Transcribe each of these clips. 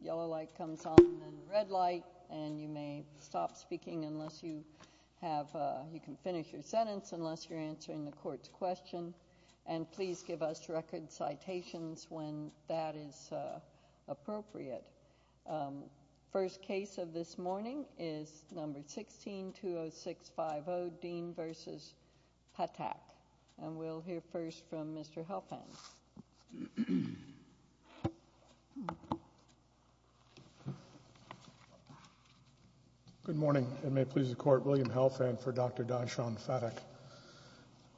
Yellow light comes on, red light, and you may stop speaking unless you have, you can finish your sentence unless you're answering the court's question, and please give us record citations when that is appropriate. First case of this morning is number 16, 20650, Dean v. Phatak, and we'll hear first from Mr. Helfand. Good morning, and may it please the court, William Helfand for Dr. Darshan Phatak.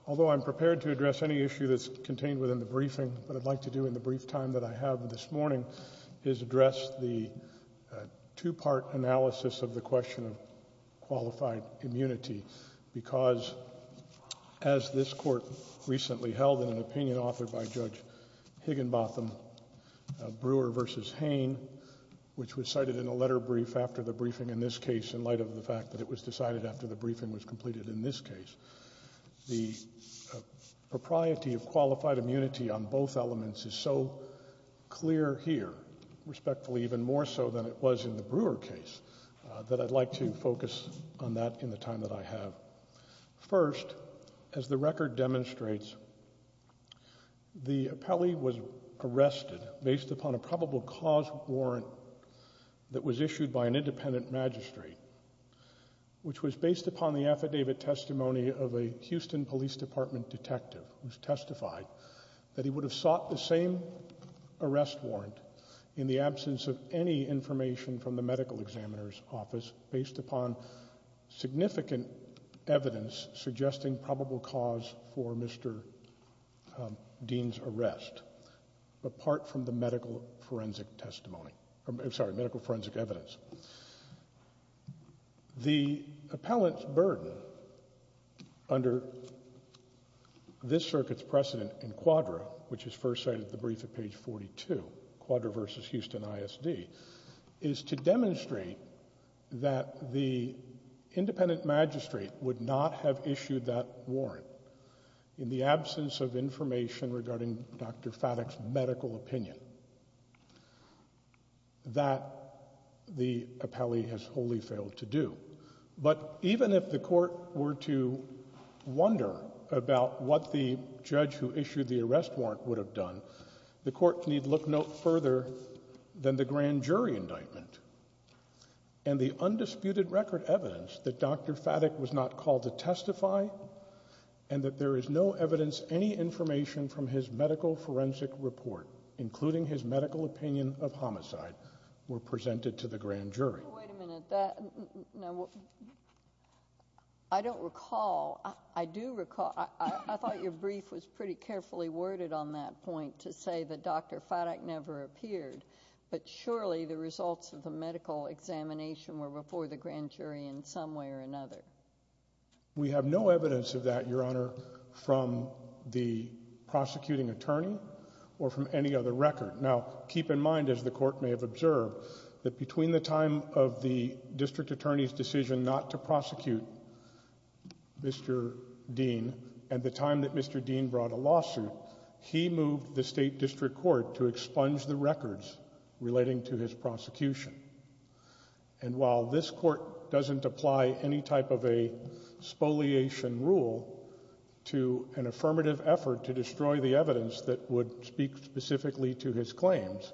Although I'm prepared to address any issue that's contained within the briefing, what I'd like to do in the brief time that I have this morning is address the two-part analysis of the question of qualified immunity, because as this Court recently held in an opinion authored by Judge Higginbotham, Brewer v. Hain, which was cited in a letter brief after the briefing in this case in light of the fact that it was decided after the briefing was completed in this case, the propriety of qualified immunity on both elements is so clear here, respectfully even more so than it was in the Brewer case, that I'd like to focus on that in the time that I have. First, as the record demonstrates, the appellee was arrested based upon a probable cause warrant that was issued by an independent magistrate, which was based upon the affidavit testimony of a Houston Police Department detective who testified that he would have sought the same arrest warrant in the absence of any information from the medical examiner's office based upon significant evidence suggesting probable cause for Mr. Dean's arrest, apart from the medical forensic testimony, I'm sorry, medical forensic evidence. The appellant's burden under this circuit's precedent in Quadra, which is first cited the brief at page 42, Quadra v. Houston ISD, is to demonstrate that the independent magistrate would not have issued that warrant in the absence of information regarding Dr. Faddock's medical opinion, that the appellee has wholly failed to do. But even if the court were to wonder about what the judge who issued the arrest warrant would have done, the court need look no further than the grand jury indictment, and the undisputed record evidence that Dr. Faddock was not called to testify, and that there is no evidence any information from his medical forensic report, including his medical opinion of homicide, were presented to the grand jury. Wait a minute, I don't recall, I do recall, I thought your brief was pretty carefully worded on that point to say that Dr. Faddock never appeared, but surely the results of the medical examination were before the grand jury in some way or another. We have no evidence of that, Your Honor, from the prosecuting attorney or from any other record. Now keep in mind, as the court may have observed, that between the time of the district attorney's decision not to prosecute Mr. Dean and the time that Mr. Dean brought a lawsuit, he moved the state district court to expunge the records relating to his prosecution. And while this court doesn't apply any type of a spoliation rule to an affirmative effort to destroy the evidence that would speak specifically to his claims,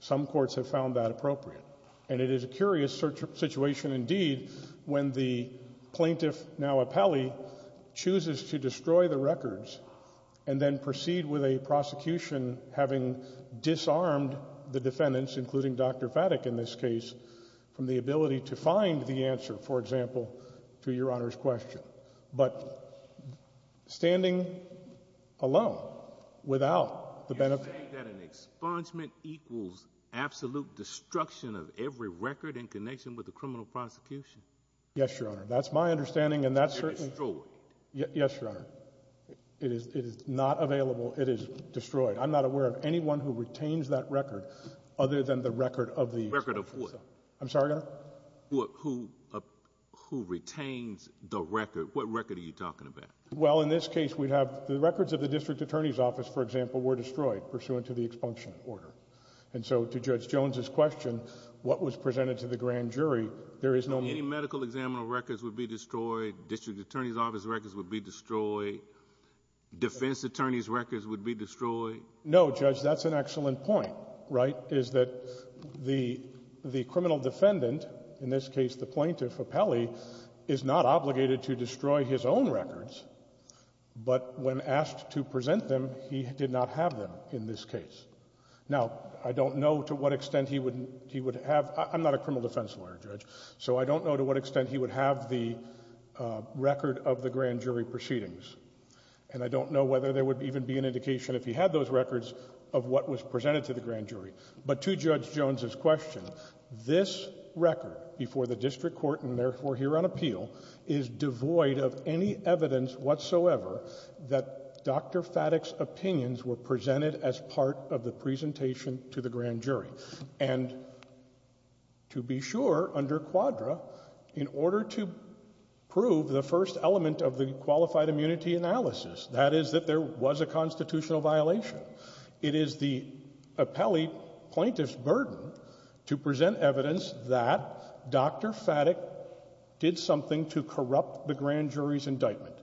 some courts have found that appropriate. And it is a curious situation indeed when the plaintiff, now appellee, chooses to destroy the records and then proceed with a prosecution having disarmed the defendants, including Dr. Faddock in this case, from the ability to find the answer, for example, to Your Honor's question. But standing alone, without the benefit... You're saying that an expungement equals absolute destruction of every record in connection with the criminal prosecution? Yes, Your Honor. That's my understanding and that's certainly... You're destroyed. Yes, Your Honor. It is not available. It is destroyed. I'm not aware of anyone who retains that record other than the record of the... Record of what? I'm sorry, Your Honor? Who retains the record. What record are you talking about? Well, in this case, we have the records of the defendants pursuant to the expunction order. And so to Judge Jones's question, what was presented to the grand jury, there is no... Any medical examiner records would be destroyed, district attorney's office records would be destroyed, defense attorney's records would be destroyed. No, Judge, that's an excellent point, right, is that the criminal defendant, in this case the plaintiff appellee, is not obligated to destroy his own records, but when asked to present them, he did not have them in this case. Now, I don't know to what extent he would... He would have... I'm not a criminal defense lawyer, Judge, so I don't know to what extent he would have the record of the grand jury proceedings. And I don't know whether there would even be an indication, if he had those records, of what was presented to the grand jury. But to Judge Jones's question, this record before the district court, and therefore here on appeal, is devoid of any evidence whatsoever that Dr. Faddick's opinions were presented as part of the presentation to the grand jury. And to be sure, under Quadra, in order to prove the first element of the qualified immunity analysis, that is that there was a constitutional violation, it is the appellee plaintiff's burden to present evidence that Dr. Faddick did something to corrupt the grand jury's indictment.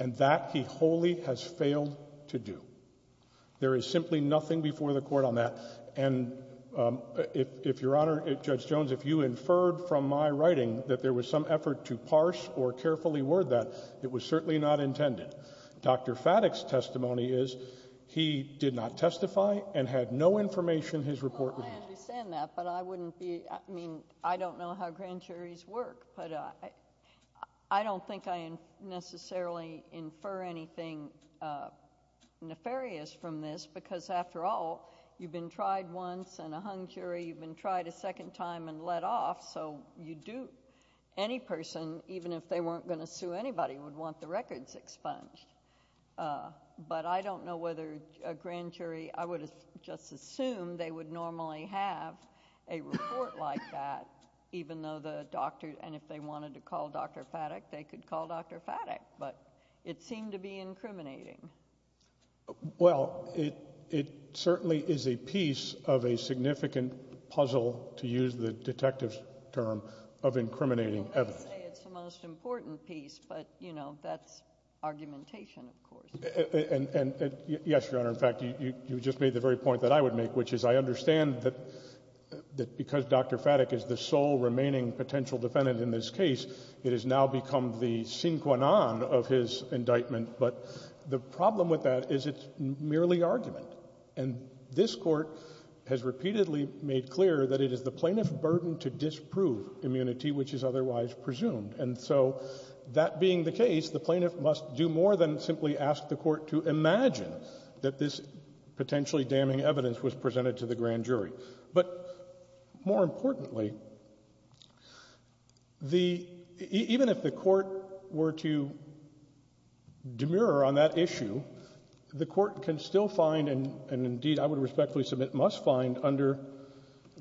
And that he wholly has failed to do. There is simply nothing before the court on that. And if, Your Honor, Judge Jones, if you inferred from my writing that there was some effort to parse or carefully word that, it was certainly not intended. Dr. Faddick's testimony is he did not testify and had no information his report revealed. I understand that, but I wouldn't be... I mean, I don't know how grand jury would necessarily infer anything nefarious from this, because after all, you've been tried once and a hung jury, you've been tried a second time and let off, so you do... any person, even if they weren't going to sue anybody, would want the records expunged. But I don't know whether a grand jury... I would just assume they would normally have a report like that, even though the doctor... and if they wanted to call Dr. Faddick, they could call Dr. Faddick, but it seemed to be incriminating. Well, it certainly is a piece of a significant puzzle, to use the detective's term, of incriminating evidence. Well, they say it's the most important piece, but, you know, that's argumentation, of course. And, yes, Your Honor, in fact, you just made the very point that I would make, which is I understand that because Dr. Faddick is the sole remaining potential defendant in this case, it has now become the sine qua non of his indictment, but the problem with that is it's merely argument. And this Court has repeatedly made clear that it is the plaintiff's burden to disprove immunity, which is otherwise presumed. And so that being the case, the plaintiff must do more than simply ask the Court to imagine that this potentially damning evidence was found. The... even if the Court were to demur on that issue, the Court can still find, and indeed I would respectfully submit must find, under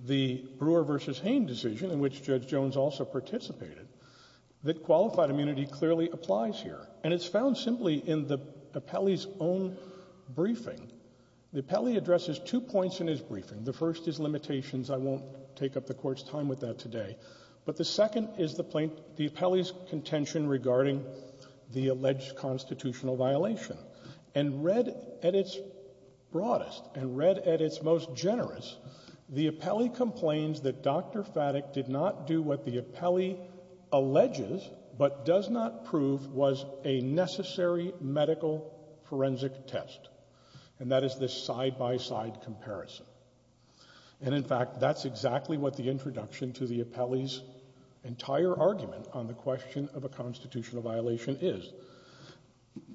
the Brewer v. Hain decision, in which Judge Jones also participated, that qualified immunity clearly applies here. And it's found simply in the appellee's own briefing. The appellee addresses two points in his briefing. The first is limitations. I won't take up the Court's time with that today. But the second is the plaintiff's, the appellee's contention regarding the alleged constitutional violation. And read at its broadest, and read at its most generous, the appellee complains that Dr. Faddick did not do what the appellee alleges, but does not prove, was a necessary medical forensic test, and that is this side-by-side comparison. And, in fact, that's exactly what the introduction to the appellee's entire argument on the question of a constitutional violation is.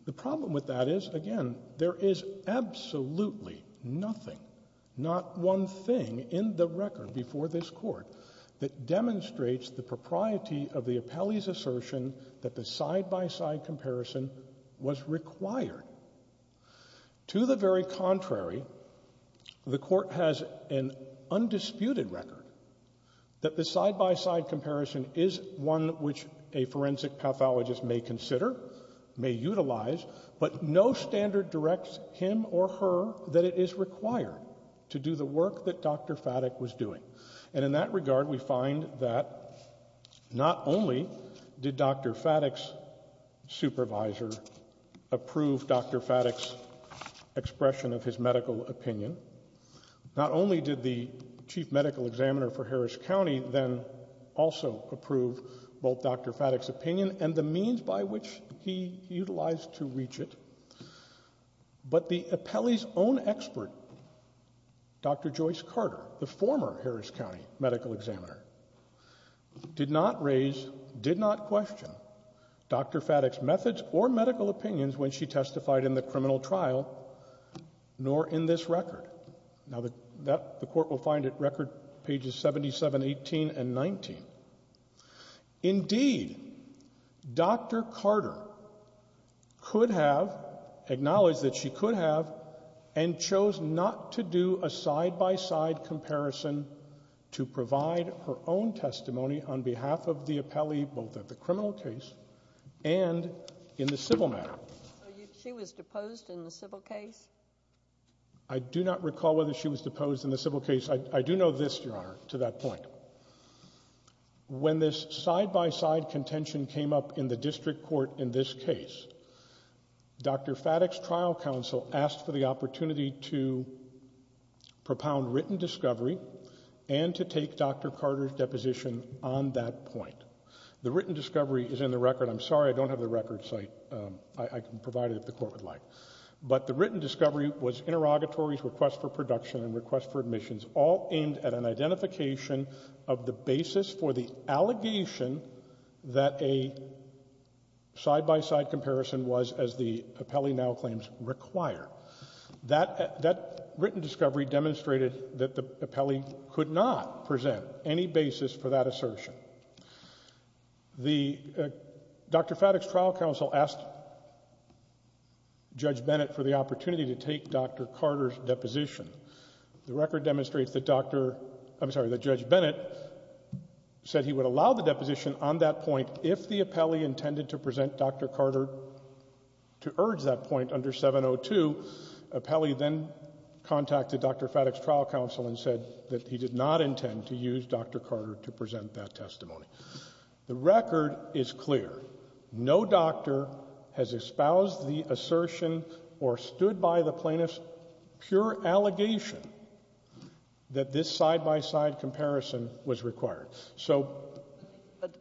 The problem with that is, again, there is absolutely nothing, not one thing, in the record before this Court that demonstrates the propriety of the appellee's assertion that the side-by-side comparison was required. To the very contrary, the Court has an undisputed record that the side-by-side comparison is one which a forensic pathologist may consider, may utilize, but no standard directs him or her that it is required to do the work that Dr. Faddick was doing. And in that regard, we find that not only did Dr. Faddick's supervisor approve Dr. Faddick's medical opinion, not only did the chief medical examiner for Harris County then also approve both Dr. Faddick's opinion and the means by which he utilized to reach it, but the appellee's own expert, Dr. Joyce Carter, the former Harris County medical examiner, did not raise, did not question Dr. Faddick's methods or medical opinions when she testified in the criminal trial, nor in this record. Now, the Court will find it record pages 77, 18, and 19. Indeed, Dr. Carter could have acknowledged that she could have and chose not to do a side-by-side comparison to provide her own testimony on behalf of the appellee, both at the criminal case and in the civil matter. She was deposed in the civil case? I do not recall whether she was deposed in the civil case. I do know this, Your Honor, to that point. When this side-by-side contention came up in the district court in this case, Dr. Faddick's trial counsel asked for the opportunity to propound written discovery and to take Dr. Carter's deposition on that point. The written discovery is in the record. I'm sorry I don't have the record, so I can provide it if the Court would like. But the written discovery was interrogatories, requests for production, and requests for admissions, all aimed at an identification of the basis for the allegation that a side-by-side comparison was as the appellee now claims require. That written discovery demonstrated that the appellee could not present any basis for that assertion. Dr. Faddick's trial counsel asked Judge Bennett for the opportunity to take Dr. Carter's deposition. The record demonstrates that Judge Bennett said he would allow the deposition on that point if the appellee intended to present Dr. Carter to urge that point under 702. Appellee then contacted Dr. Faddick's trial counsel and said that he did not intend to use Dr. Carter to present that testimony. The record is clear. No doctor has espoused the assertion or stood by the plaintiff's pure allegation that this side-by-side comparison was required. So... You have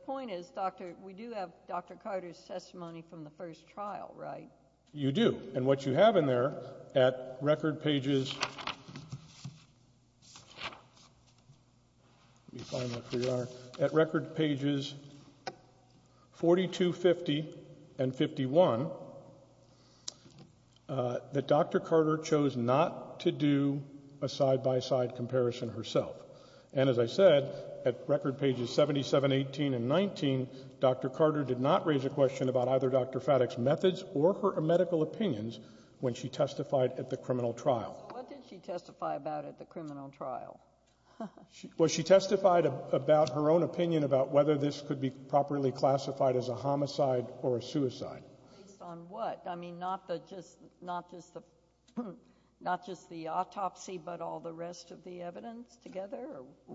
the testimony from the first trial, right? You do. And what you have in there, at record pages 4250 and 51, that Dr. Carter chose not to do a side-by-side comparison herself. And as I said, at record pages 7718 and 19, Dr. Faddick did not testify at the trial. She testified about her own opinion about whether this could be properly classified as a homicide or a suicide. Based on what? I mean, not just the autopsy, but all the rest of the evidence together?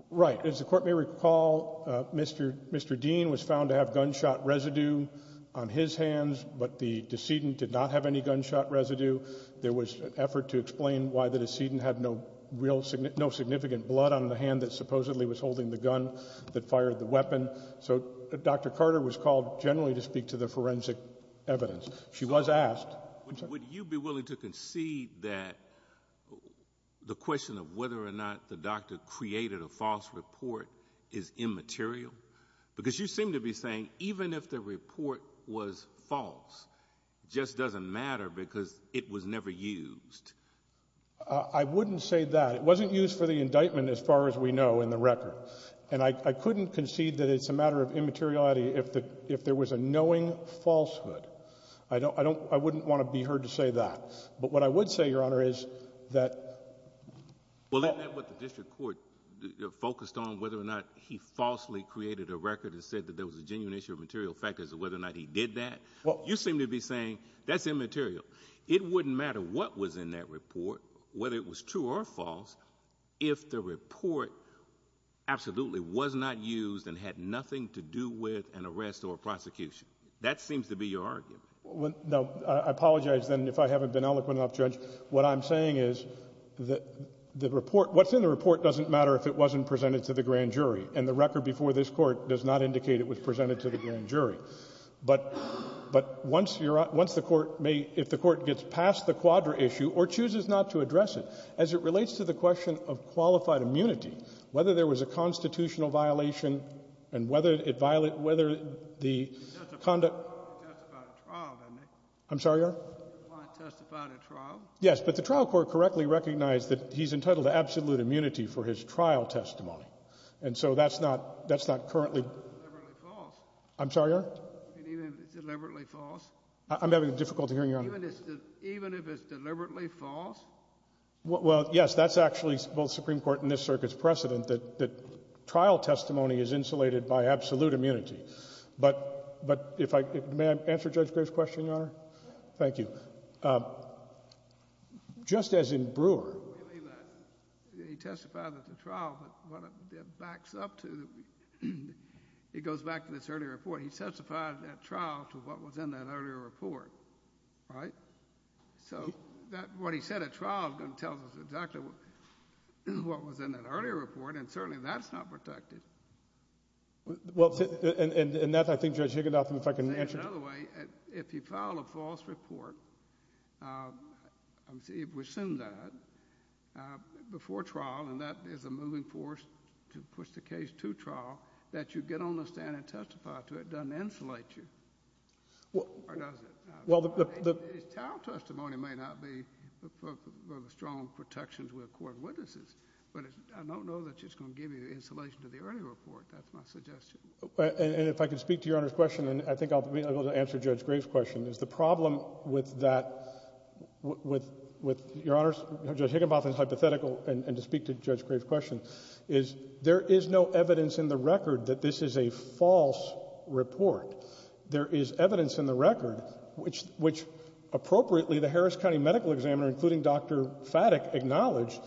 Right. As the Court may recall, Mr. Dean was found to have gunshot residue on his hands, but the decedent did not have any gunshot residue. There was an effort to explain why the decedent had no real significant blood on the hand that supposedly was holding the gun that fired the weapon. So Dr. Carter was called generally to speak to the forensic evidence. She was asked... Would you be willing to concede that the question of whether or not the doctor created a false report is immaterial? Because you seem to be saying even if the report was false, it just doesn't matter because it was never used. I wouldn't say that. It wasn't used for the indictment, as far as we know, in the record. And I couldn't concede that it's a matter of immateriality if there was a knowing falsehood. I don't, I don't, I wouldn't want to be heard to say that. But what I would say, Your Honor, is that... Well, isn't that what the District Court focused on, whether or not he falsely created a record and said that there was a genuine issue of material factors of whether or not he did that? You seem to be saying that's immaterial. It wouldn't matter what was in that report, whether it was true or false, if the report absolutely was not used and had nothing to do with an arrest or a prosecution. That seems to be your argument. Well, no, I apologize, then, if I haven't been eloquent enough, Judge. What I'm saying is that the report, what's in the report doesn't matter if it wasn't presented to the grand jury. And the record before this Court does not indicate it was presented to the grand jury. But once you're, once the Court may, if the Court gets past the quadra issue or chooses not to address it, as it relates to the question of qualified immunity, whether there was a constitutional violation and whether it violated, whether the conduct... He testified at trial, didn't he? I'm sorry, Your Honor? He testified at trial. Yes, but the trial court correctly recognized that he's entitled to absolute immunity for his trial testimony. And so that's not, that's not currently... Even if it's deliberately false. I'm sorry, Your Honor? Even if it's deliberately false? I'm having difficulty hearing you, Your Honor. Even if it's deliberately false? Well, yes, that's actually both Supreme Court and this Circuit's precedent, that trial testimony is insulated by absolute immunity. But, but if I, may I answer Judge Gray's question, Your Honor? Yes. Thank you. Just as in Brewer... He testified at the trial, but what it backs up to, it goes back to this earlier report. He testified at trial to what was in that earlier report, right? So that, what he said at trial is going to tell us exactly what was in that earlier report and certainly that's not protected. Well, and that's, I think, Judge Higginbotham, if I can answer... I'll say it another way. If you file a false report, let me see, if we assume that, before trial, and that is a moving force to push the case to trial, that you get on the stand and testify to it, it doesn't insulate you, or does it? Well, the... A trial testimony may not be of strong protections with court witnesses, but I don't know that it's going to give you insulation to the earlier report. That's my suggestion. And if I could speak to Your Honor's question, and I think I'll be able to answer Judge Gray's question, is the problem with that, with, with, Your Honors, Judge Higginbotham's hypothetical, and to speak to Judge Gray's question, is there is no evidence in the record that this is a false report. There is evidence in the record which, which, appropriately, the Harris County Medical Examiner, including Dr. Faddick, acknowledged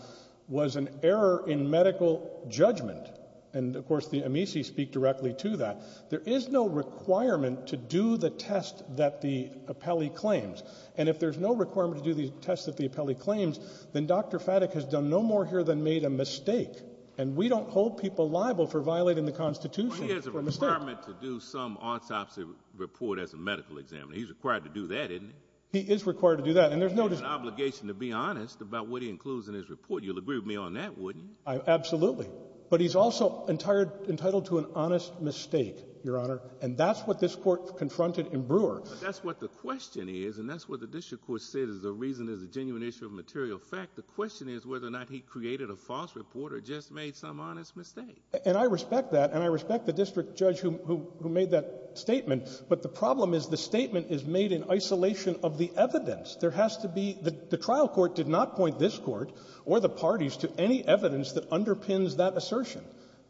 was an error in medical judgment, and of course the amici speak directly to that. There is no requirement to do the test that the appellee claims, and if there's no requirement to do the test that the appellee claims, then Dr. Faddick has done no more here than made a mistake, and we don't hold people liable for violating the Constitution for a mistake. Well, he has a requirement to do some autopsy report as a medical examiner. He's required to do that, isn't he? He is required to do that, and there's no dis- He has an obligation to be honest about what he includes in his report. You'll agree with me on that, wouldn't you? I, absolutely. But he's also entire, entitled to an honest mistake, Your Honor, and that's what this Court confronted in Brewer. But that's what the question is, and that's what the district court said is the reason there's a genuine issue of material fact. The question is whether or not he created a false report or just made some honest mistake. And I respect that, and I respect the district judge who made that statement, but the problem is the statement is made in isolation of the evidence. There has to be — the trial court did not point this Court or the parties to any evidence that underpins that assertion.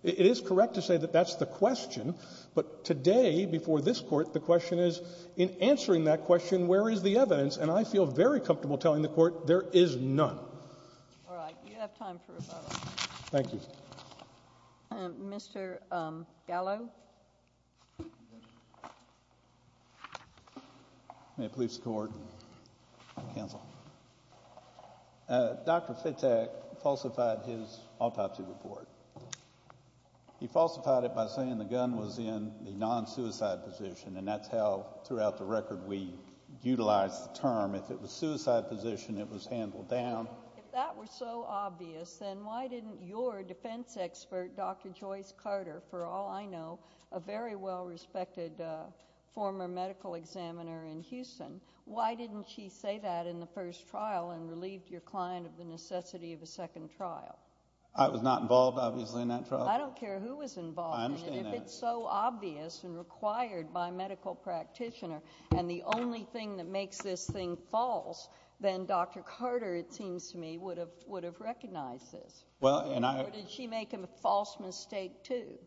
It is correct to say that that's the question, but today, before this Court, the question is, in answering that question, where is the evidence? And I feel very comfortable telling the Court there is none. All right. You have time for rebuttal. Thank you. Mr. Gallo. May it please the Court. Counsel. Dr. Fittek falsified his autopsy report. He falsified it by saying the gun was in the non-suicide position, and that's how, throughout the record, we utilize the term. If it was If that were so obvious, then why didn't your defense expert, Dr. Joyce Carter, for all I know, a very well-respected former medical examiner in Houston, why didn't she say that in the first trial and relieved your client of the necessity of a second trial? I was not involved, obviously, in that trial. I don't care who was involved. I understand that. And if it's so obvious and required by a medical practitioner, and the only thing that makes this thing false, then Dr. Carter, it seems to me, would have recognized this. Or did she make a false mistake, too?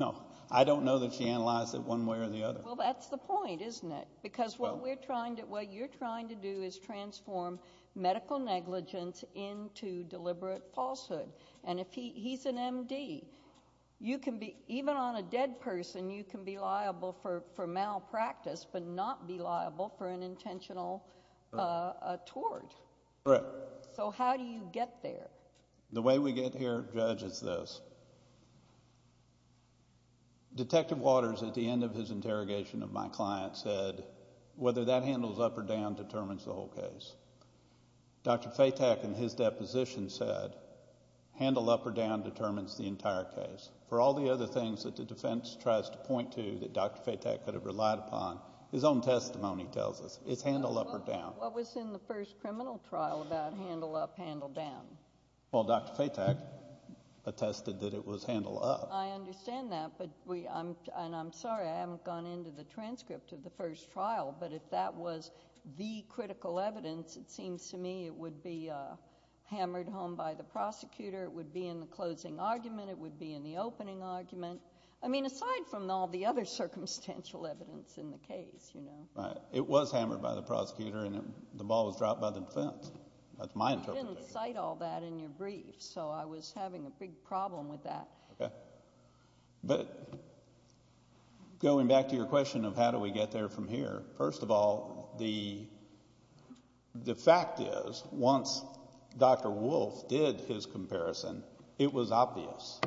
No. I don't know that she analyzed it one way or the other. Well, that's the point, isn't it? Because what you're trying to do is transform medical negligence into deliberate falsehood. And if he's an M.D., even on a dead person, you can be liable for malpractice but not be liable for an intentional tort. Correct. So how do you get there? The way we get here judges this. Detective Waters, at the end of his interrogation of my client, said, whether that handles up or down determines the whole case. Dr. Fatak, in his deposition, said, handle up or down determines the entire case. For all the other things that the defense tries to point to that Dr. Fatak could have relied upon, his own testimony tells us it's handle up or down. What was in the first criminal trial about handle up, handle down? Well, Dr. Fatak attested that it was handle up. I understand that, and I'm sorry I haven't gone into the transcript of the first trial, but if that was the critical evidence, it seems to me it would be hammered home by the prosecutor, it would be in the closing argument, it would be in the opening argument. I mean, aside from all the other circumstantial evidence in the case, you know. Right. It was hammered by the prosecutor and the ball was dropped by the defense. That's my interpretation. You didn't cite all that in your brief, so I was having a big problem with that. Okay. But going back to your question of how do we get there from here, first of all, the fact is once Dr. Wolfe did his comparison, it was obvious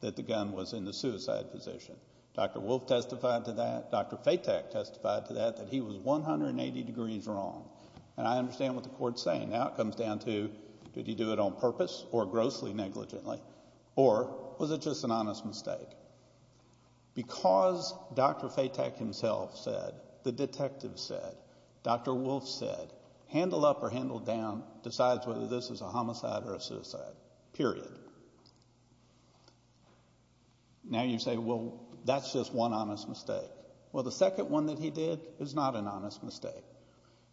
that the gun was in the suicide position. Dr. Wolfe testified to that. Dr. Fatak testified to that, that he was 180 degrees wrong. And I understand what the court's saying. Now it comes down to did he do it on purpose or grossly negligently, or was it just an honest mistake? Because Dr. Fatak himself said, the detective said, Dr. Wolfe said, handle up or handle down decides whether this is a homicide or a suicide, period. Now you say, well, that's just one honest mistake. Well, the second one that he did is not an honest mistake.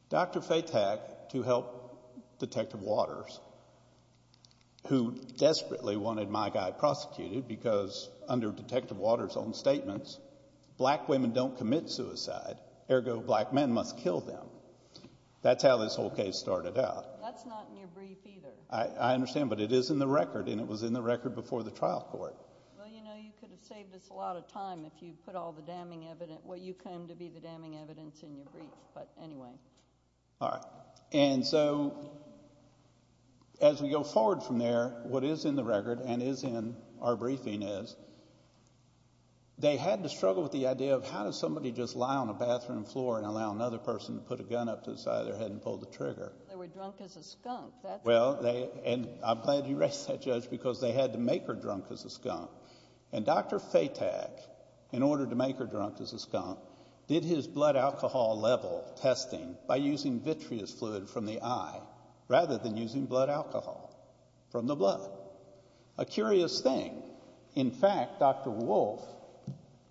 Dr. Fatak, to help Detective Waters, who desperately wanted my guy prosecuted because under Detective Waters' own statements, black women don't commit suicide, ergo black men must kill them. That's how this whole case started out. That's not in your brief either. I understand, but it is in the record, and it was in the record before the trial court. Well, you know, you could have saved us a lot of time if you put all the damning evidence and what you claim to be the damning evidence in your brief, but anyway. All right, and so as we go forward from there, what is in the record and is in our briefing is they had to struggle with the idea of how does somebody just lie on a bathroom floor and allow another person to put a gun up to the side of their head and pull the trigger? They were drunk as a skunk. Well, and I'm glad you raised that, Judge, because they had to make her drunk as a skunk. And Dr. Fatak, in order to make her drunk as a skunk, did his blood alcohol level testing by using vitreous fluid from the eye rather than using blood alcohol from the blood. A curious thing. In fact, Dr. Wolf,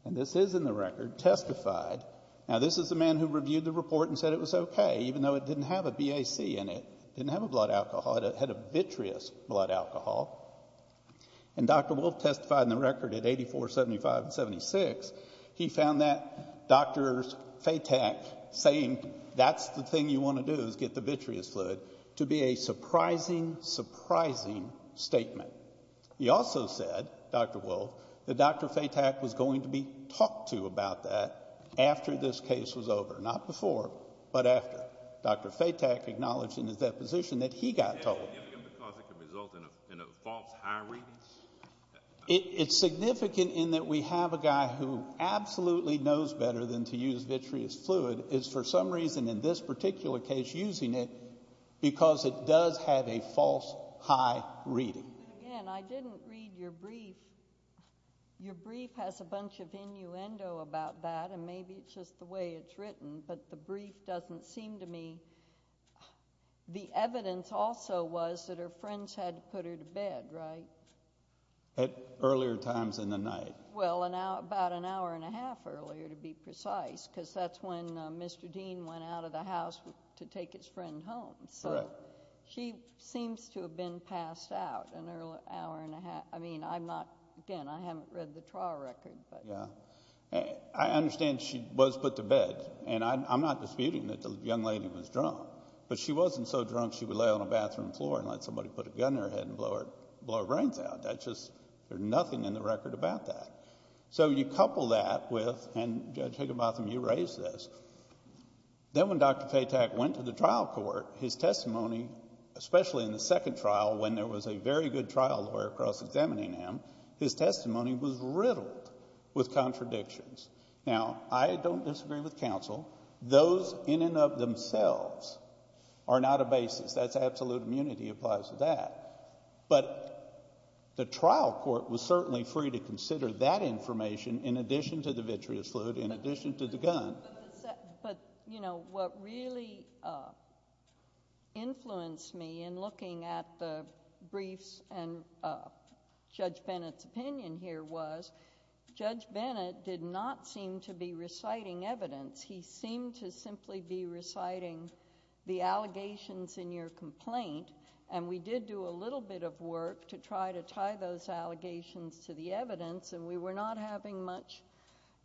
and this is in the record, testified. Now, this is the man who reviewed the report and said it was okay, even though it didn't have a BAC in it, didn't have a blood alcohol. It had a vitreous blood alcohol. And Dr. Wolf testified in the record at 84, 75, and 76. He found that Dr. Fatak saying that's the thing you want to do is get the vitreous fluid to be a surprising, surprising statement. He also said, Dr. Wolf, that Dr. Fatak was going to be talked to about that after this case was over, not before, but after. Dr. Fatak acknowledged in his deposition that he got told. Is it significant because it can result in a false high reading? It's significant in that we have a guy who absolutely knows better than to use vitreous fluid is for some reason in this particular case using it because it does have a false high reading. Again, I didn't read your brief. Your brief has a bunch of innuendo about that, and maybe it's just the way it's written, but the brief doesn't seem to me. The evidence also was that her friends had put her to bed, right? At earlier times in the night. Well, about an hour and a half earlier to be precise because that's when Mr. Dean went out of the house to take his friend home. Correct. So she seems to have been passed out an hour and a half. I mean, again, I haven't read the trial record. I understand she was put to bed, and I'm not disputing that the young lady was drunk, but she wasn't so drunk she would lay on a bathroom floor and let somebody put a gun to her head and blow her brains out. There's nothing in the record about that. So you couple that with, and Judge Higginbotham, you raised this. Then when Dr. Fatak went to the trial court, his testimony, especially in the second trial when there was a very good trial lawyer cross-examining him, his testimony was riddled with contradictions. Now, I don't disagree with counsel. Those in and of themselves are not a basis. That's absolute immunity applies to that. But the trial court was certainly free to consider that information in addition to the vitreous loot, in addition to the gun. But, you know, what really influenced me in looking at the briefs and Judge Bennett's opinion here was Judge Bennett did not seem to be reciting evidence. He seemed to simply be reciting the allegations in your complaint, and we did do a little bit of work to try to tie those allegations to the evidence, and we were not having much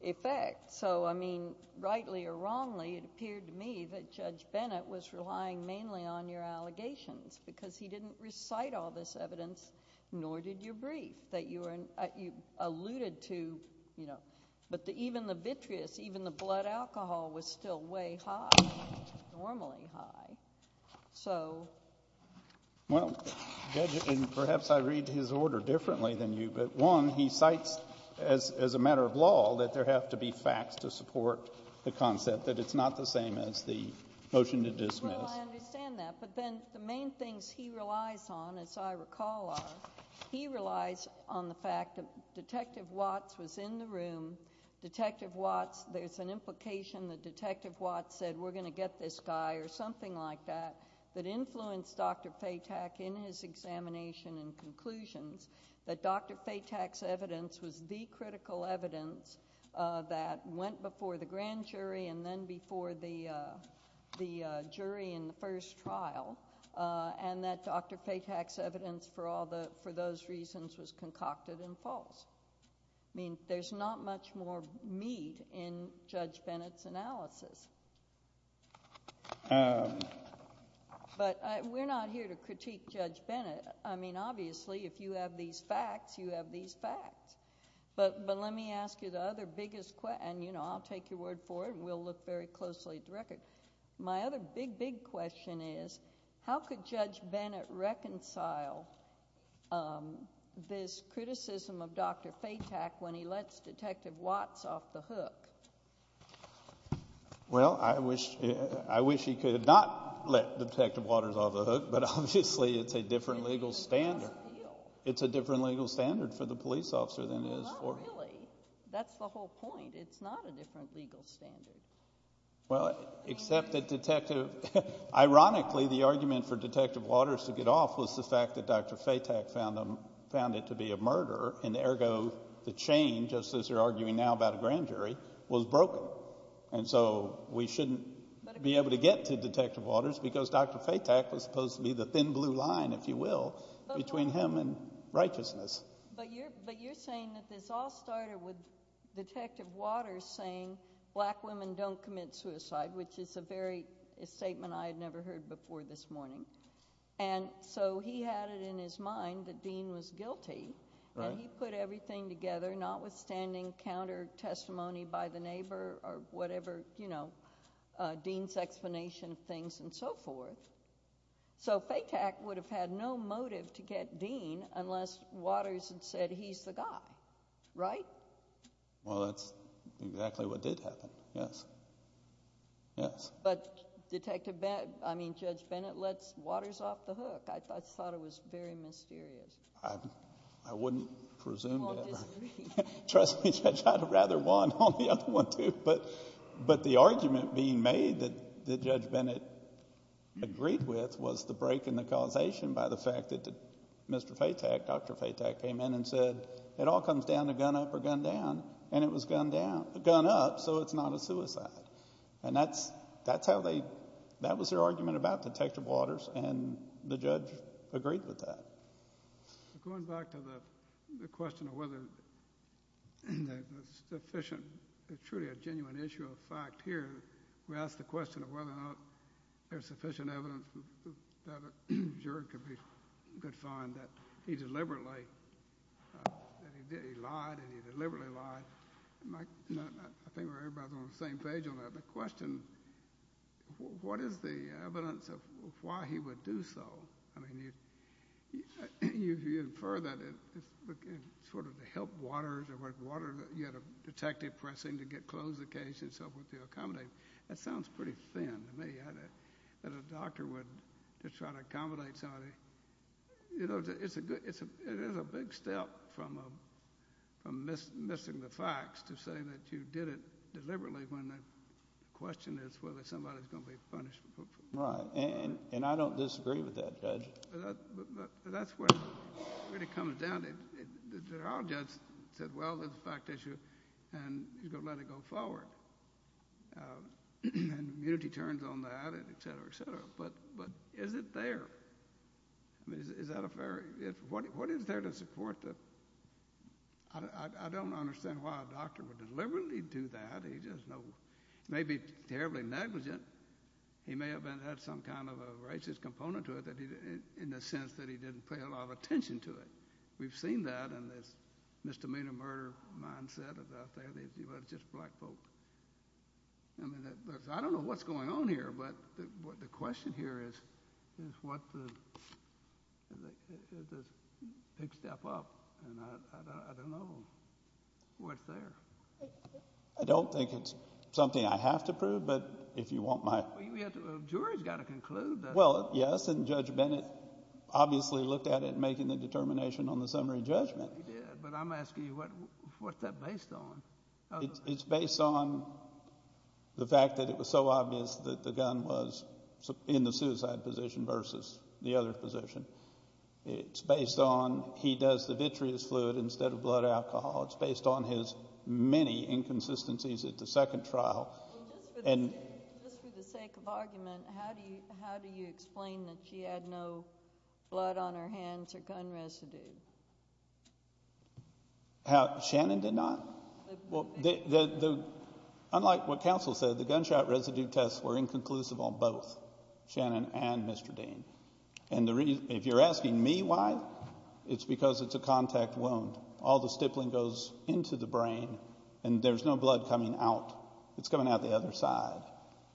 effect. So, I mean, rightly or wrongly, it appeared to me that Judge Bennett was relying mainly on your allegations because he didn't recite all this evidence, nor did your brief that you alluded to. But even the vitreous, even the blood alcohol was still way high, normally high. Well, Judge, and perhaps I read his order differently than you, but, one, he cites as a matter of law that there have to be facts to support the concept, that it's not the same as the motion to dismiss. Well, I understand that, but then the main things he relies on, as I recall, are he relies on the fact that Detective Watts was in the room. Detective Watts, there's an implication that Detective Watts said we're going to get this guy or something like that that influenced Dr. Fatak in his examination and conclusions, that Dr. Fatak's evidence was the critical evidence that went before the grand jury and then before the jury in the first trial, and that Dr. Fatak's evidence for those reasons was concocted and false. I mean, there's not much more meat in Judge Bennett's analysis. But we're not here to critique Judge Bennett. I mean, obviously, if you have these facts, you have these facts. But let me ask you the other biggest question, and, you know, I'll take your word for it, and we'll look very closely at the record. My other big, big question is how could Judge Bennett reconcile this criticism of Dr. Fatak when he lets Detective Watts off the hook? Well, I wish he could not let Detective Watters off the hook, but obviously it's a different legal standard. It's a different legal standard for the police officer than it is for him. Not really. That's the whole point. It's not a different legal standard. Well, except that Detective – ironically, the argument for Detective Watters to get off was the fact that Dr. Fatak found it to be a murder, and ergo the chain, just as they're arguing now about a grand jury, was broken. And so we shouldn't be able to get to Detective Watters because Dr. Fatak was supposed to be the thin blue line, if you will, between him and righteousness. But you're saying that this all started with Detective Watters saying black women don't commit suicide, which is a very – a statement I had never heard before this morning. And so he had it in his mind that Dean was guilty. And he put everything together, notwithstanding counter-testimony by the neighbor or whatever, you know, Dean's explanation of things and so forth. So Fatak would have had no motive to get Dean unless Watters had said he's the guy, right? Well, that's exactly what did happen, yes. Yes. But Detective – I mean Judge Bennett lets Watters off the hook. I thought it was very mysterious. I wouldn't presume to ever. Trust me, Judge, I'd have rather won on the other one too. But the argument being made that Judge Bennett agreed with was the break in the causation by the fact that Mr. Fatak, Dr. Fatak, came in and said it all comes down to gun up or gun down. And it was gun down – gun up, so it's not a suicide. And that's how they – that was their argument about Detective Watters, and the judge agreed with that. Going back to the question of whether there's sufficient – truly a genuine issue of fact here, we asked the question of whether or not there's sufficient evidence that a juror could find that he deliberately – that he lied and he deliberately lied. I think we're all on the same page on that. My question, what is the evidence of why he would do so? I mean you infer that it's sort of to help Watters or whatever. Watters, you had a detective pressing to get close to the case and so forth to accommodate. That sounds pretty thin to me, that a doctor would just try to accommodate somebody. It's a good – it is a big step from missing the facts to say that you did it deliberately when the question is whether somebody is going to be punished. Right, and I don't disagree with that, Judge. But that's where it really comes down to. The general judge said, well, there's a fact issue, and he's going to let it go forward. And immunity turns on that, et cetera, et cetera. But is it there? I mean, is that a fair – what is there to support the – I don't understand why a doctor would deliberately do that. He just may be terribly negligent. He may have had some kind of a racist component to it in the sense that he didn't pay a lot of attention to it. We've seen that in this misdemeanor murder mindset out there. It's just black folk. I mean, I don't know what's going on here, but the question here is what the – is this a big step up? And I don't know what's there. I don't think it's something I have to prove, but if you want my – Well, the jury has got to conclude that – Well, yes, and Judge Bennett obviously looked at it in making the determination on the summary judgment. But I'm asking you, what's that based on? It's based on the fact that it was so obvious that the gun was in the suicide position versus the other position. It's based on he does the vitreous fluid instead of blood alcohol. It's based on his many inconsistencies at the second trial. Just for the sake of argument, how do you explain that she had no blood on her hands or gun residue? Shannon did not? Unlike what counsel said, the gunshot residue tests were inconclusive on both Shannon and Mr. Dean. And if you're asking me why, it's because it's a contact wound. All the stippling goes into the brain, and there's no blood coming out. It's coming out the other side.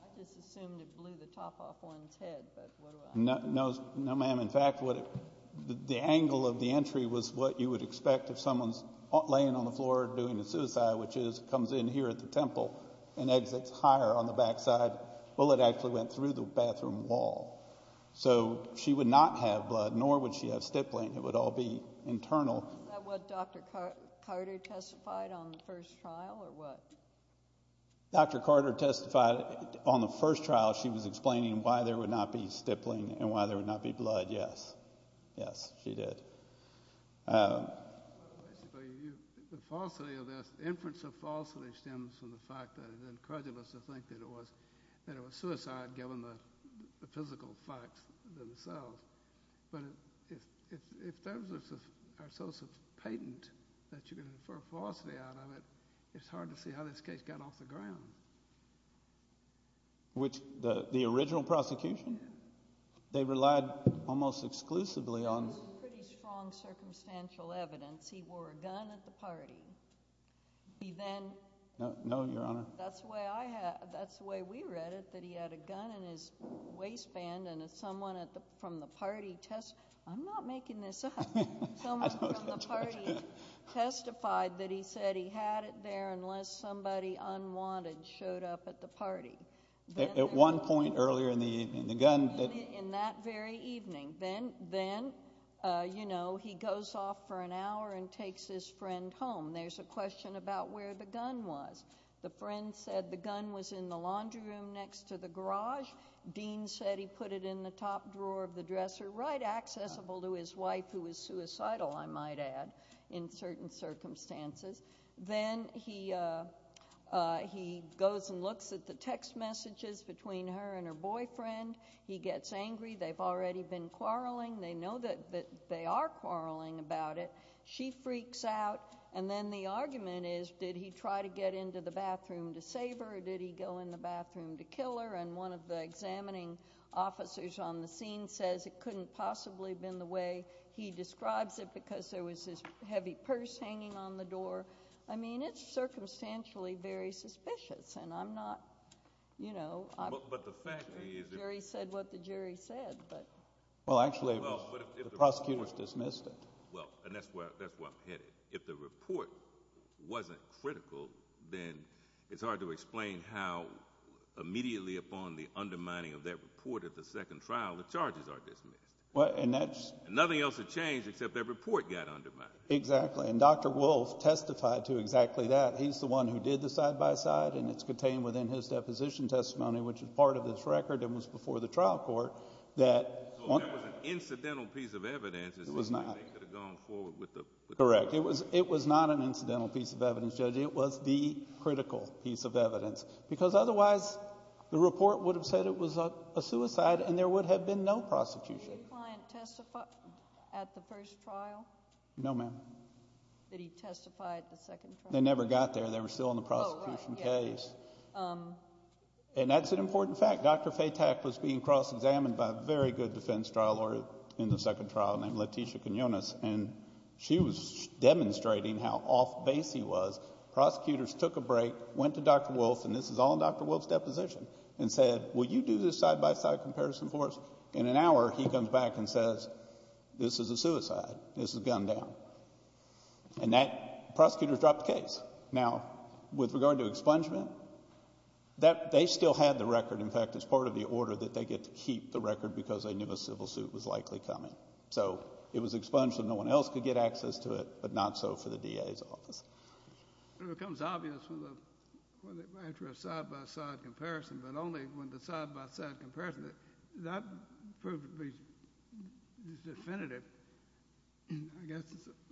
I just assumed it blew the top off one's head. No, ma'am. In fact, the angle of the entry was what you would expect if someone's laying on the floor doing a suicide, which is comes in here at the temple and exits higher on the backside. Well, it actually went through the bathroom wall. So she would not have blood, nor would she have stippling. It would all be internal. Was that what Dr. Carter testified on the first trial or what? Dr. Carter testified on the first trial. She was explaining why there would not be stippling and why there would not be blood, yes. Yes, she did. The falsity of this, the inference of falsity stems from the fact that it encouraged us to think that it was suicide given the physical facts themselves. But if those are sources of patent that you're going to infer falsity out of it, it's hard to see how this case got off the ground. Which the original prosecution, they relied almost exclusively on – This is pretty strong circumstantial evidence. He wore a gun at the party. He then – No, Your Honor. That's the way we read it, that he had a gun in his waistband, and someone from the party – I'm not making this up. Someone from the party testified that he said he had it there unless somebody unwanted showed up at the party. At one point earlier in the evening, the gun – In that very evening. Then he goes off for an hour and takes his friend home. There's a question about where the gun was. The friend said the gun was in the laundry room next to the garage. Dean said he put it in the top drawer of the dresser, right accessible to his wife who was suicidal, I might add, in certain circumstances. Then he goes and looks at the text messages between her and her boyfriend. He gets angry. They've already been quarreling. They know that they are quarreling about it. She freaks out. Then the argument is did he try to get into the bathroom to save her or did he go in the bathroom to kill her? One of the examining officers on the scene says it couldn't possibly have been the way he describes it because there was this heavy purse hanging on the door. I mean it's circumstantially very suspicious, and I'm not – But the fact is – The jury said what the jury said. Well, actually, the prosecutors dismissed it. Well, and that's where I'm headed. If the report wasn't critical, then it's hard to explain how immediately upon the undermining of that report at the second trial, the charges are dismissed. Nothing else had changed except that report got undermined. Exactly, and Dr. Wolf testified to exactly that. He's the one who did the side-by-side, and it's contained within his deposition testimony, which is part of this record and was before the trial court, that – Correct. It was not an incidental piece of evidence, Judge. It was the critical piece of evidence because otherwise the report would have said it was a suicide and there would have been no prosecution. Did your client testify at the first trial? No, ma'am. Did he testify at the second trial? They never got there. They were still in the prosecution case. Oh, right, yes. And that's an important fact. Dr. Fatak was being cross-examined by a very good defense trial lawyer in the second trial named Letitia Quinones, and she was demonstrating how off-base he was. Prosecutors took a break, went to Dr. Wolf, and this is all in Dr. Wolf's deposition, and said, Will you do this side-by-side comparison for us? In an hour, he comes back and says, This is a suicide. This is gunned down. And that – prosecutors dropped the case. Now, with regard to expungement, they still had the record. In fact, it's part of the order that they get to keep the record because they knew a civil suit was likely coming. So it was expunged so no one else could get access to it, but not so for the DA's office. It becomes obvious after a side-by-side comparison, but only when the side-by-side comparison, that proves to be definitive. I guess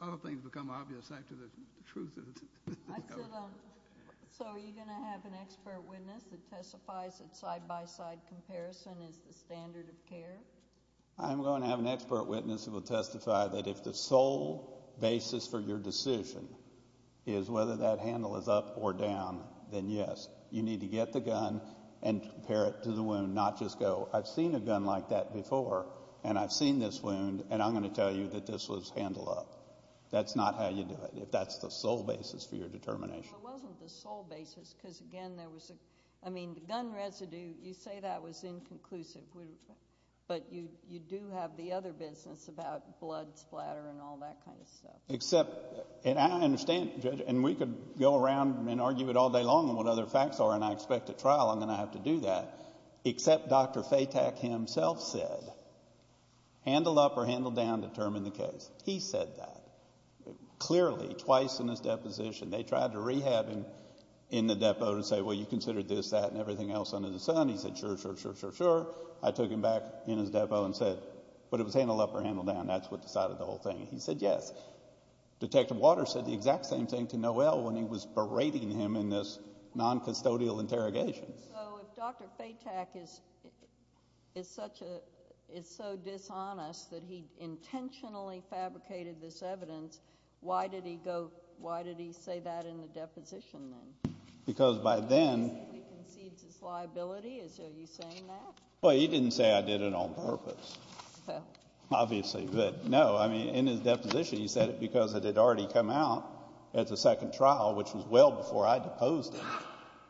a lot of things become obvious after the truth is discovered. So are you going to have an expert witness that testifies that side-by-side comparison is the standard of care? I'm going to have an expert witness who will testify that if the sole basis for your decision is whether that handle is up or down, then yes. You need to get the gun and compare it to the wound, not just go, I've seen a gun like that before, and I've seen this wound, and I'm going to tell you that this was handle up. That's not how you do it if that's the sole basis for your determination. Well, it wasn't the sole basis because, again, there was a gun residue. You say that was inconclusive, but you do have the other business about blood splatter and all that kind of stuff. I understand, Judge, and we could go around and argue it all day long on what other facts are, and I expect at trial I'm going to have to do that, except Dr. Fatak himself said handle up or handle down to determine the case. He said that clearly twice in his deposition. They tried to rehab him in the depot to say, well, you considered this, that, and everything else under the sun. He said, sure, sure, sure, sure, sure. I took him back in his depot and said, but it was handle up or handle down. That's what decided the whole thing. He said yes. Detective Waters said the exact same thing to Noel when he was berating him in this noncustodial interrogation. So if Dr. Fatak is so dishonest that he intentionally fabricated this evidence, why did he say that in the deposition then? Because by then he concedes his liability. Are you saying that? Well, he didn't say I did it on purpose, obviously. But, no, I mean in his deposition he said it because it had already come out at the second trial, which was well before I deposed him,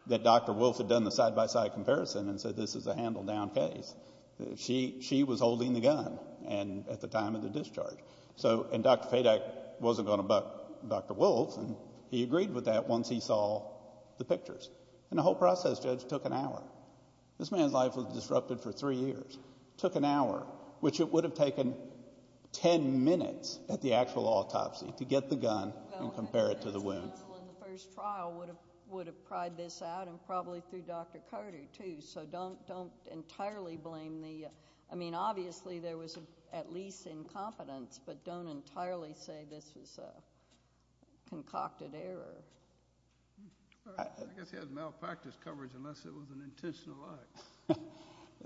that Dr. Wolfe had done the side-by-side comparison and said this is a handle down case. She was holding the gun at the time of the discharge. And Dr. Fatak wasn't going to buck Dr. Wolfe, and he agreed with that once he saw the pictures. And the whole process, Judge, took an hour. This man's life was disrupted for three years. It took an hour, which it would have taken ten minutes at the actual autopsy to get the gun and compare it to the wounds. The counsel in the first trial would have cried this out and probably through Dr. Carter, too. So don't entirely blame the ‑‑ I mean, obviously there was at least incompetence, but don't entirely say this was a concocted error. I guess he had malpractice coverage unless it was an intentional act.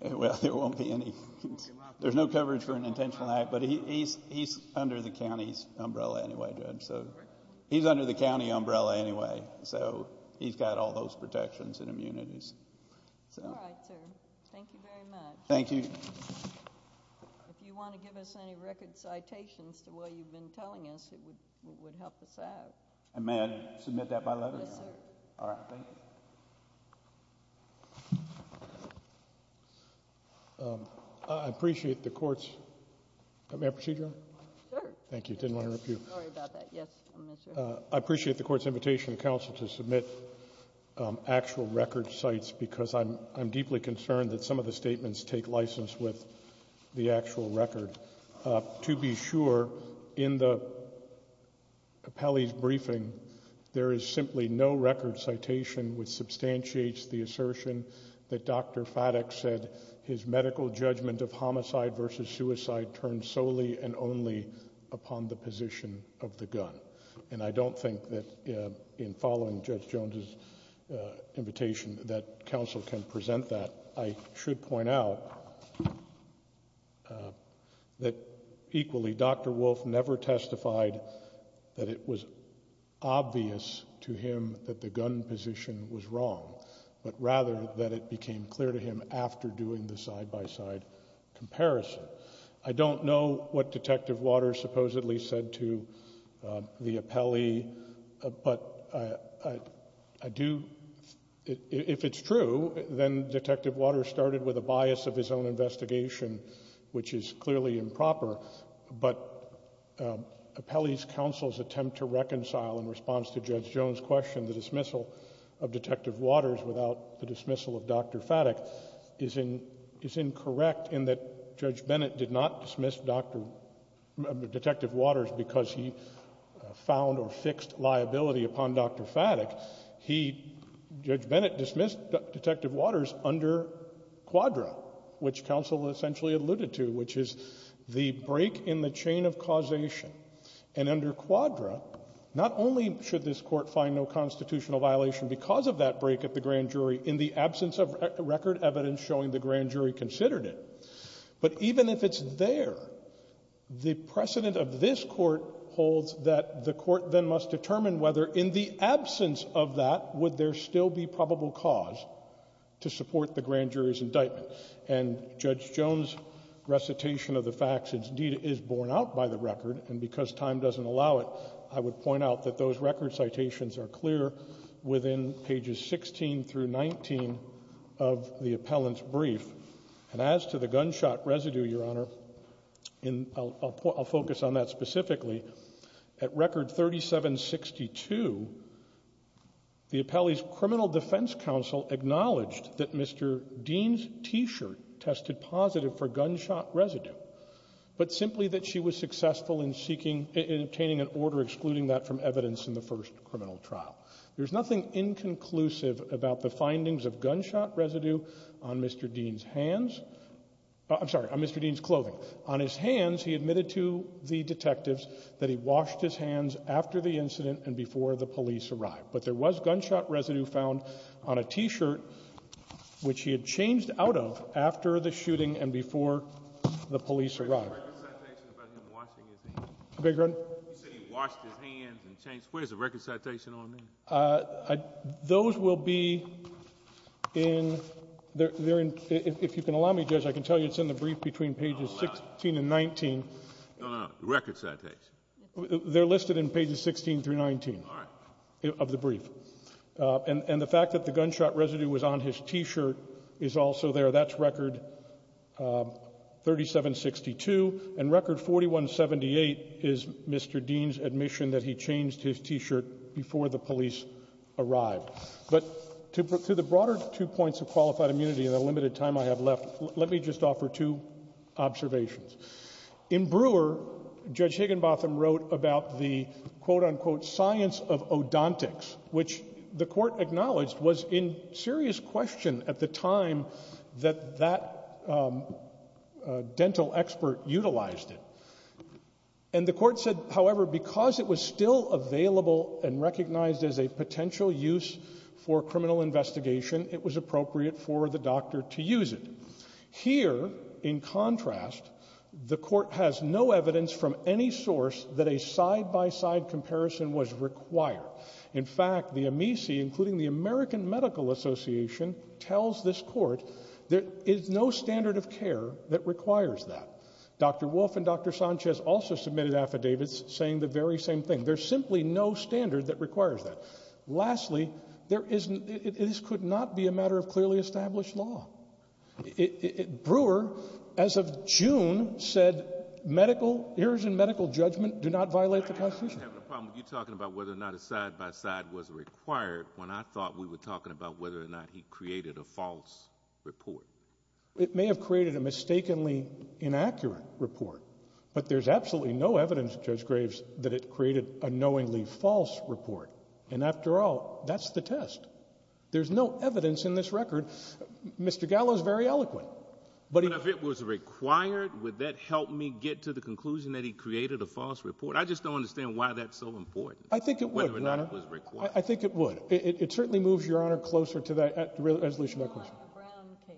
Well, there won't be any. There's no coverage for an intentional act, but he's under the county's umbrella anyway, Judge. He's under the county umbrella anyway, so he's got all those protections and immunities. All right, sir. Thank you very much. Thank you. If you want to give us any record citations to what you've been telling us, it would help us out. May I submit that by letter? Yes, sir. I appreciate the court's ‑‑ may I proceed, Your Honor? Sure. Thank you. Didn't want to interrupt you. Sorry about that. Yes. I appreciate the court's invitation to counsel to submit actual record cites because I'm deeply concerned that some of the statements take license with the actual record. To be sure, in the appellee's briefing, there is simply no record citation which substantiates the assertion that Dr. Faddock said his medical judgment of homicide versus suicide turned solely and only upon the position of the gun. And I don't think that in following Judge Jones's invitation that counsel can present that. I should point out that equally Dr. Wolf never testified that it was obvious to him that the gun position was wrong, but rather that it became clear to him after doing the side-by-side comparison. I don't know what Detective Waters supposedly said to the appellee, but I do ‑‑ if it's true, then Detective Waters started with a bias of his own investigation, which is clearly improper, but appellee's counsel's attempt to reconcile in response to Judge Jones's question the dismissal of Detective Waters without the dismissal of Dr. Faddock is incorrect in that Judge Bennett did not dismiss Detective Waters because he found or fixed liability upon Dr. Faddock. He, Judge Bennett, dismissed Detective Waters under Quadra, which counsel essentially alluded to, which is the break in the chain of causation. And under Quadra, not only should this Court find no constitutional violation because of that break at the grand jury in the absence of record evidence showing the grand jury considered it, but even if it's there, the precedent of this Court holds that the Court then must determine whether in the absence of that would there still be probable cause to support the grand jury's indictment. And Judge Jones's recitation of the facts indeed is borne out by the record, and because time doesn't allow it, I would point out that those record citations are clear within pages 16 through 19 of the appellant's brief. And as to the gunshot residue, Your Honor, I'll focus on that specifically. At record 3762, the appellee's criminal defense counsel acknowledged that Mr. Dean's T-shirt tested positive for gunshot residue, but simply that she was successful in seeking and obtaining an order excluding that from evidence in the first criminal trial. There's nothing inconclusive about the findings of gunshot residue on Mr. Dean's hands. I'm sorry, on Mr. Dean's clothing. On his hands, he admitted to the detectives that he washed his hands after the incident and before the police arrived. But there was gunshot residue found on a T-shirt, which he had changed out of after the shooting and before the police arrived. You said he washed his hands and changed. Where's the record citation on that? Those will be in, if you can allow me, Judge, I can tell you it's in the brief between pages 16 and 19. No, no, no, the record citation. They're listed in pages 16 through 19 of the brief. And the fact that the gunshot residue was on his T-shirt is also there. That's record 3762. And record 4178 is Mr. Dean's admission that he changed his T-shirt before the police arrived. But to the broader two points of qualified immunity and the limited time I have left, let me just offer two observations. In Brewer, Judge Higginbotham wrote about the, quote, unquote, science of odontics, which the Court acknowledged was in serious question at the time that that dental expert utilized it. And the Court said, however, because it was still available and recognized as a potential use for criminal investigation, it was appropriate for the doctor to use it. Here, in contrast, the Court has no evidence from any source that a side-by-side comparison was required. In fact, the AMECI, including the American Medical Association, tells this Court there is no standard of care that requires that. Dr. Wolfe and Dr. Sanchez also submitted affidavits saying the very same thing. There's simply no standard that requires that. Lastly, this could not be a matter of clearly established law. Brewer, as of June, said medical, errors in medical judgment do not violate the Constitution. I'm having a problem with you talking about whether or not a side-by-side was required when I thought we were talking about whether or not he created a false report. It may have created a mistakenly inaccurate report, but there's absolutely no evidence, Judge Graves, that it created a knowingly false report. And after all, that's the test. There's no evidence in this record. Mr. Gallo is very eloquent. But if it was required, would that help me get to the conclusion that he created a false report? I just don't understand why that's so important, whether or not it was required. I think it would, Your Honor. I think it would. It certainly moves Your Honor closer to that resolution. It's more like a ground case.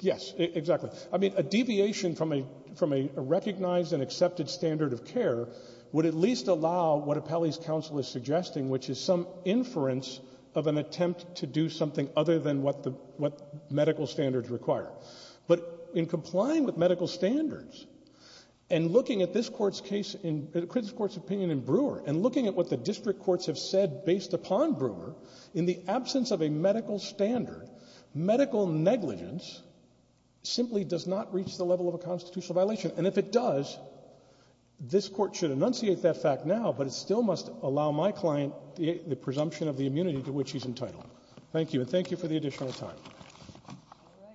Yes, exactly. I mean, a deviation from a recognized and accepted standard of care would at least allow what Apelli's counsel is suggesting, which is some inference of an attempt to do something other than what medical standards require. But in complying with medical standards, and looking at this Court's case in the critical Court's opinion in Brewer, and looking at what the district courts have said based upon Brewer, in the absence of a medical standard, medical negligence simply does not reach the level of a constitutional violation. And if it does, this Court should enunciate that fact now, but it still must allow my client the presumption of the immunity to which he's entitled. Thank you. And thank you for the additional time. All righty. Thank you.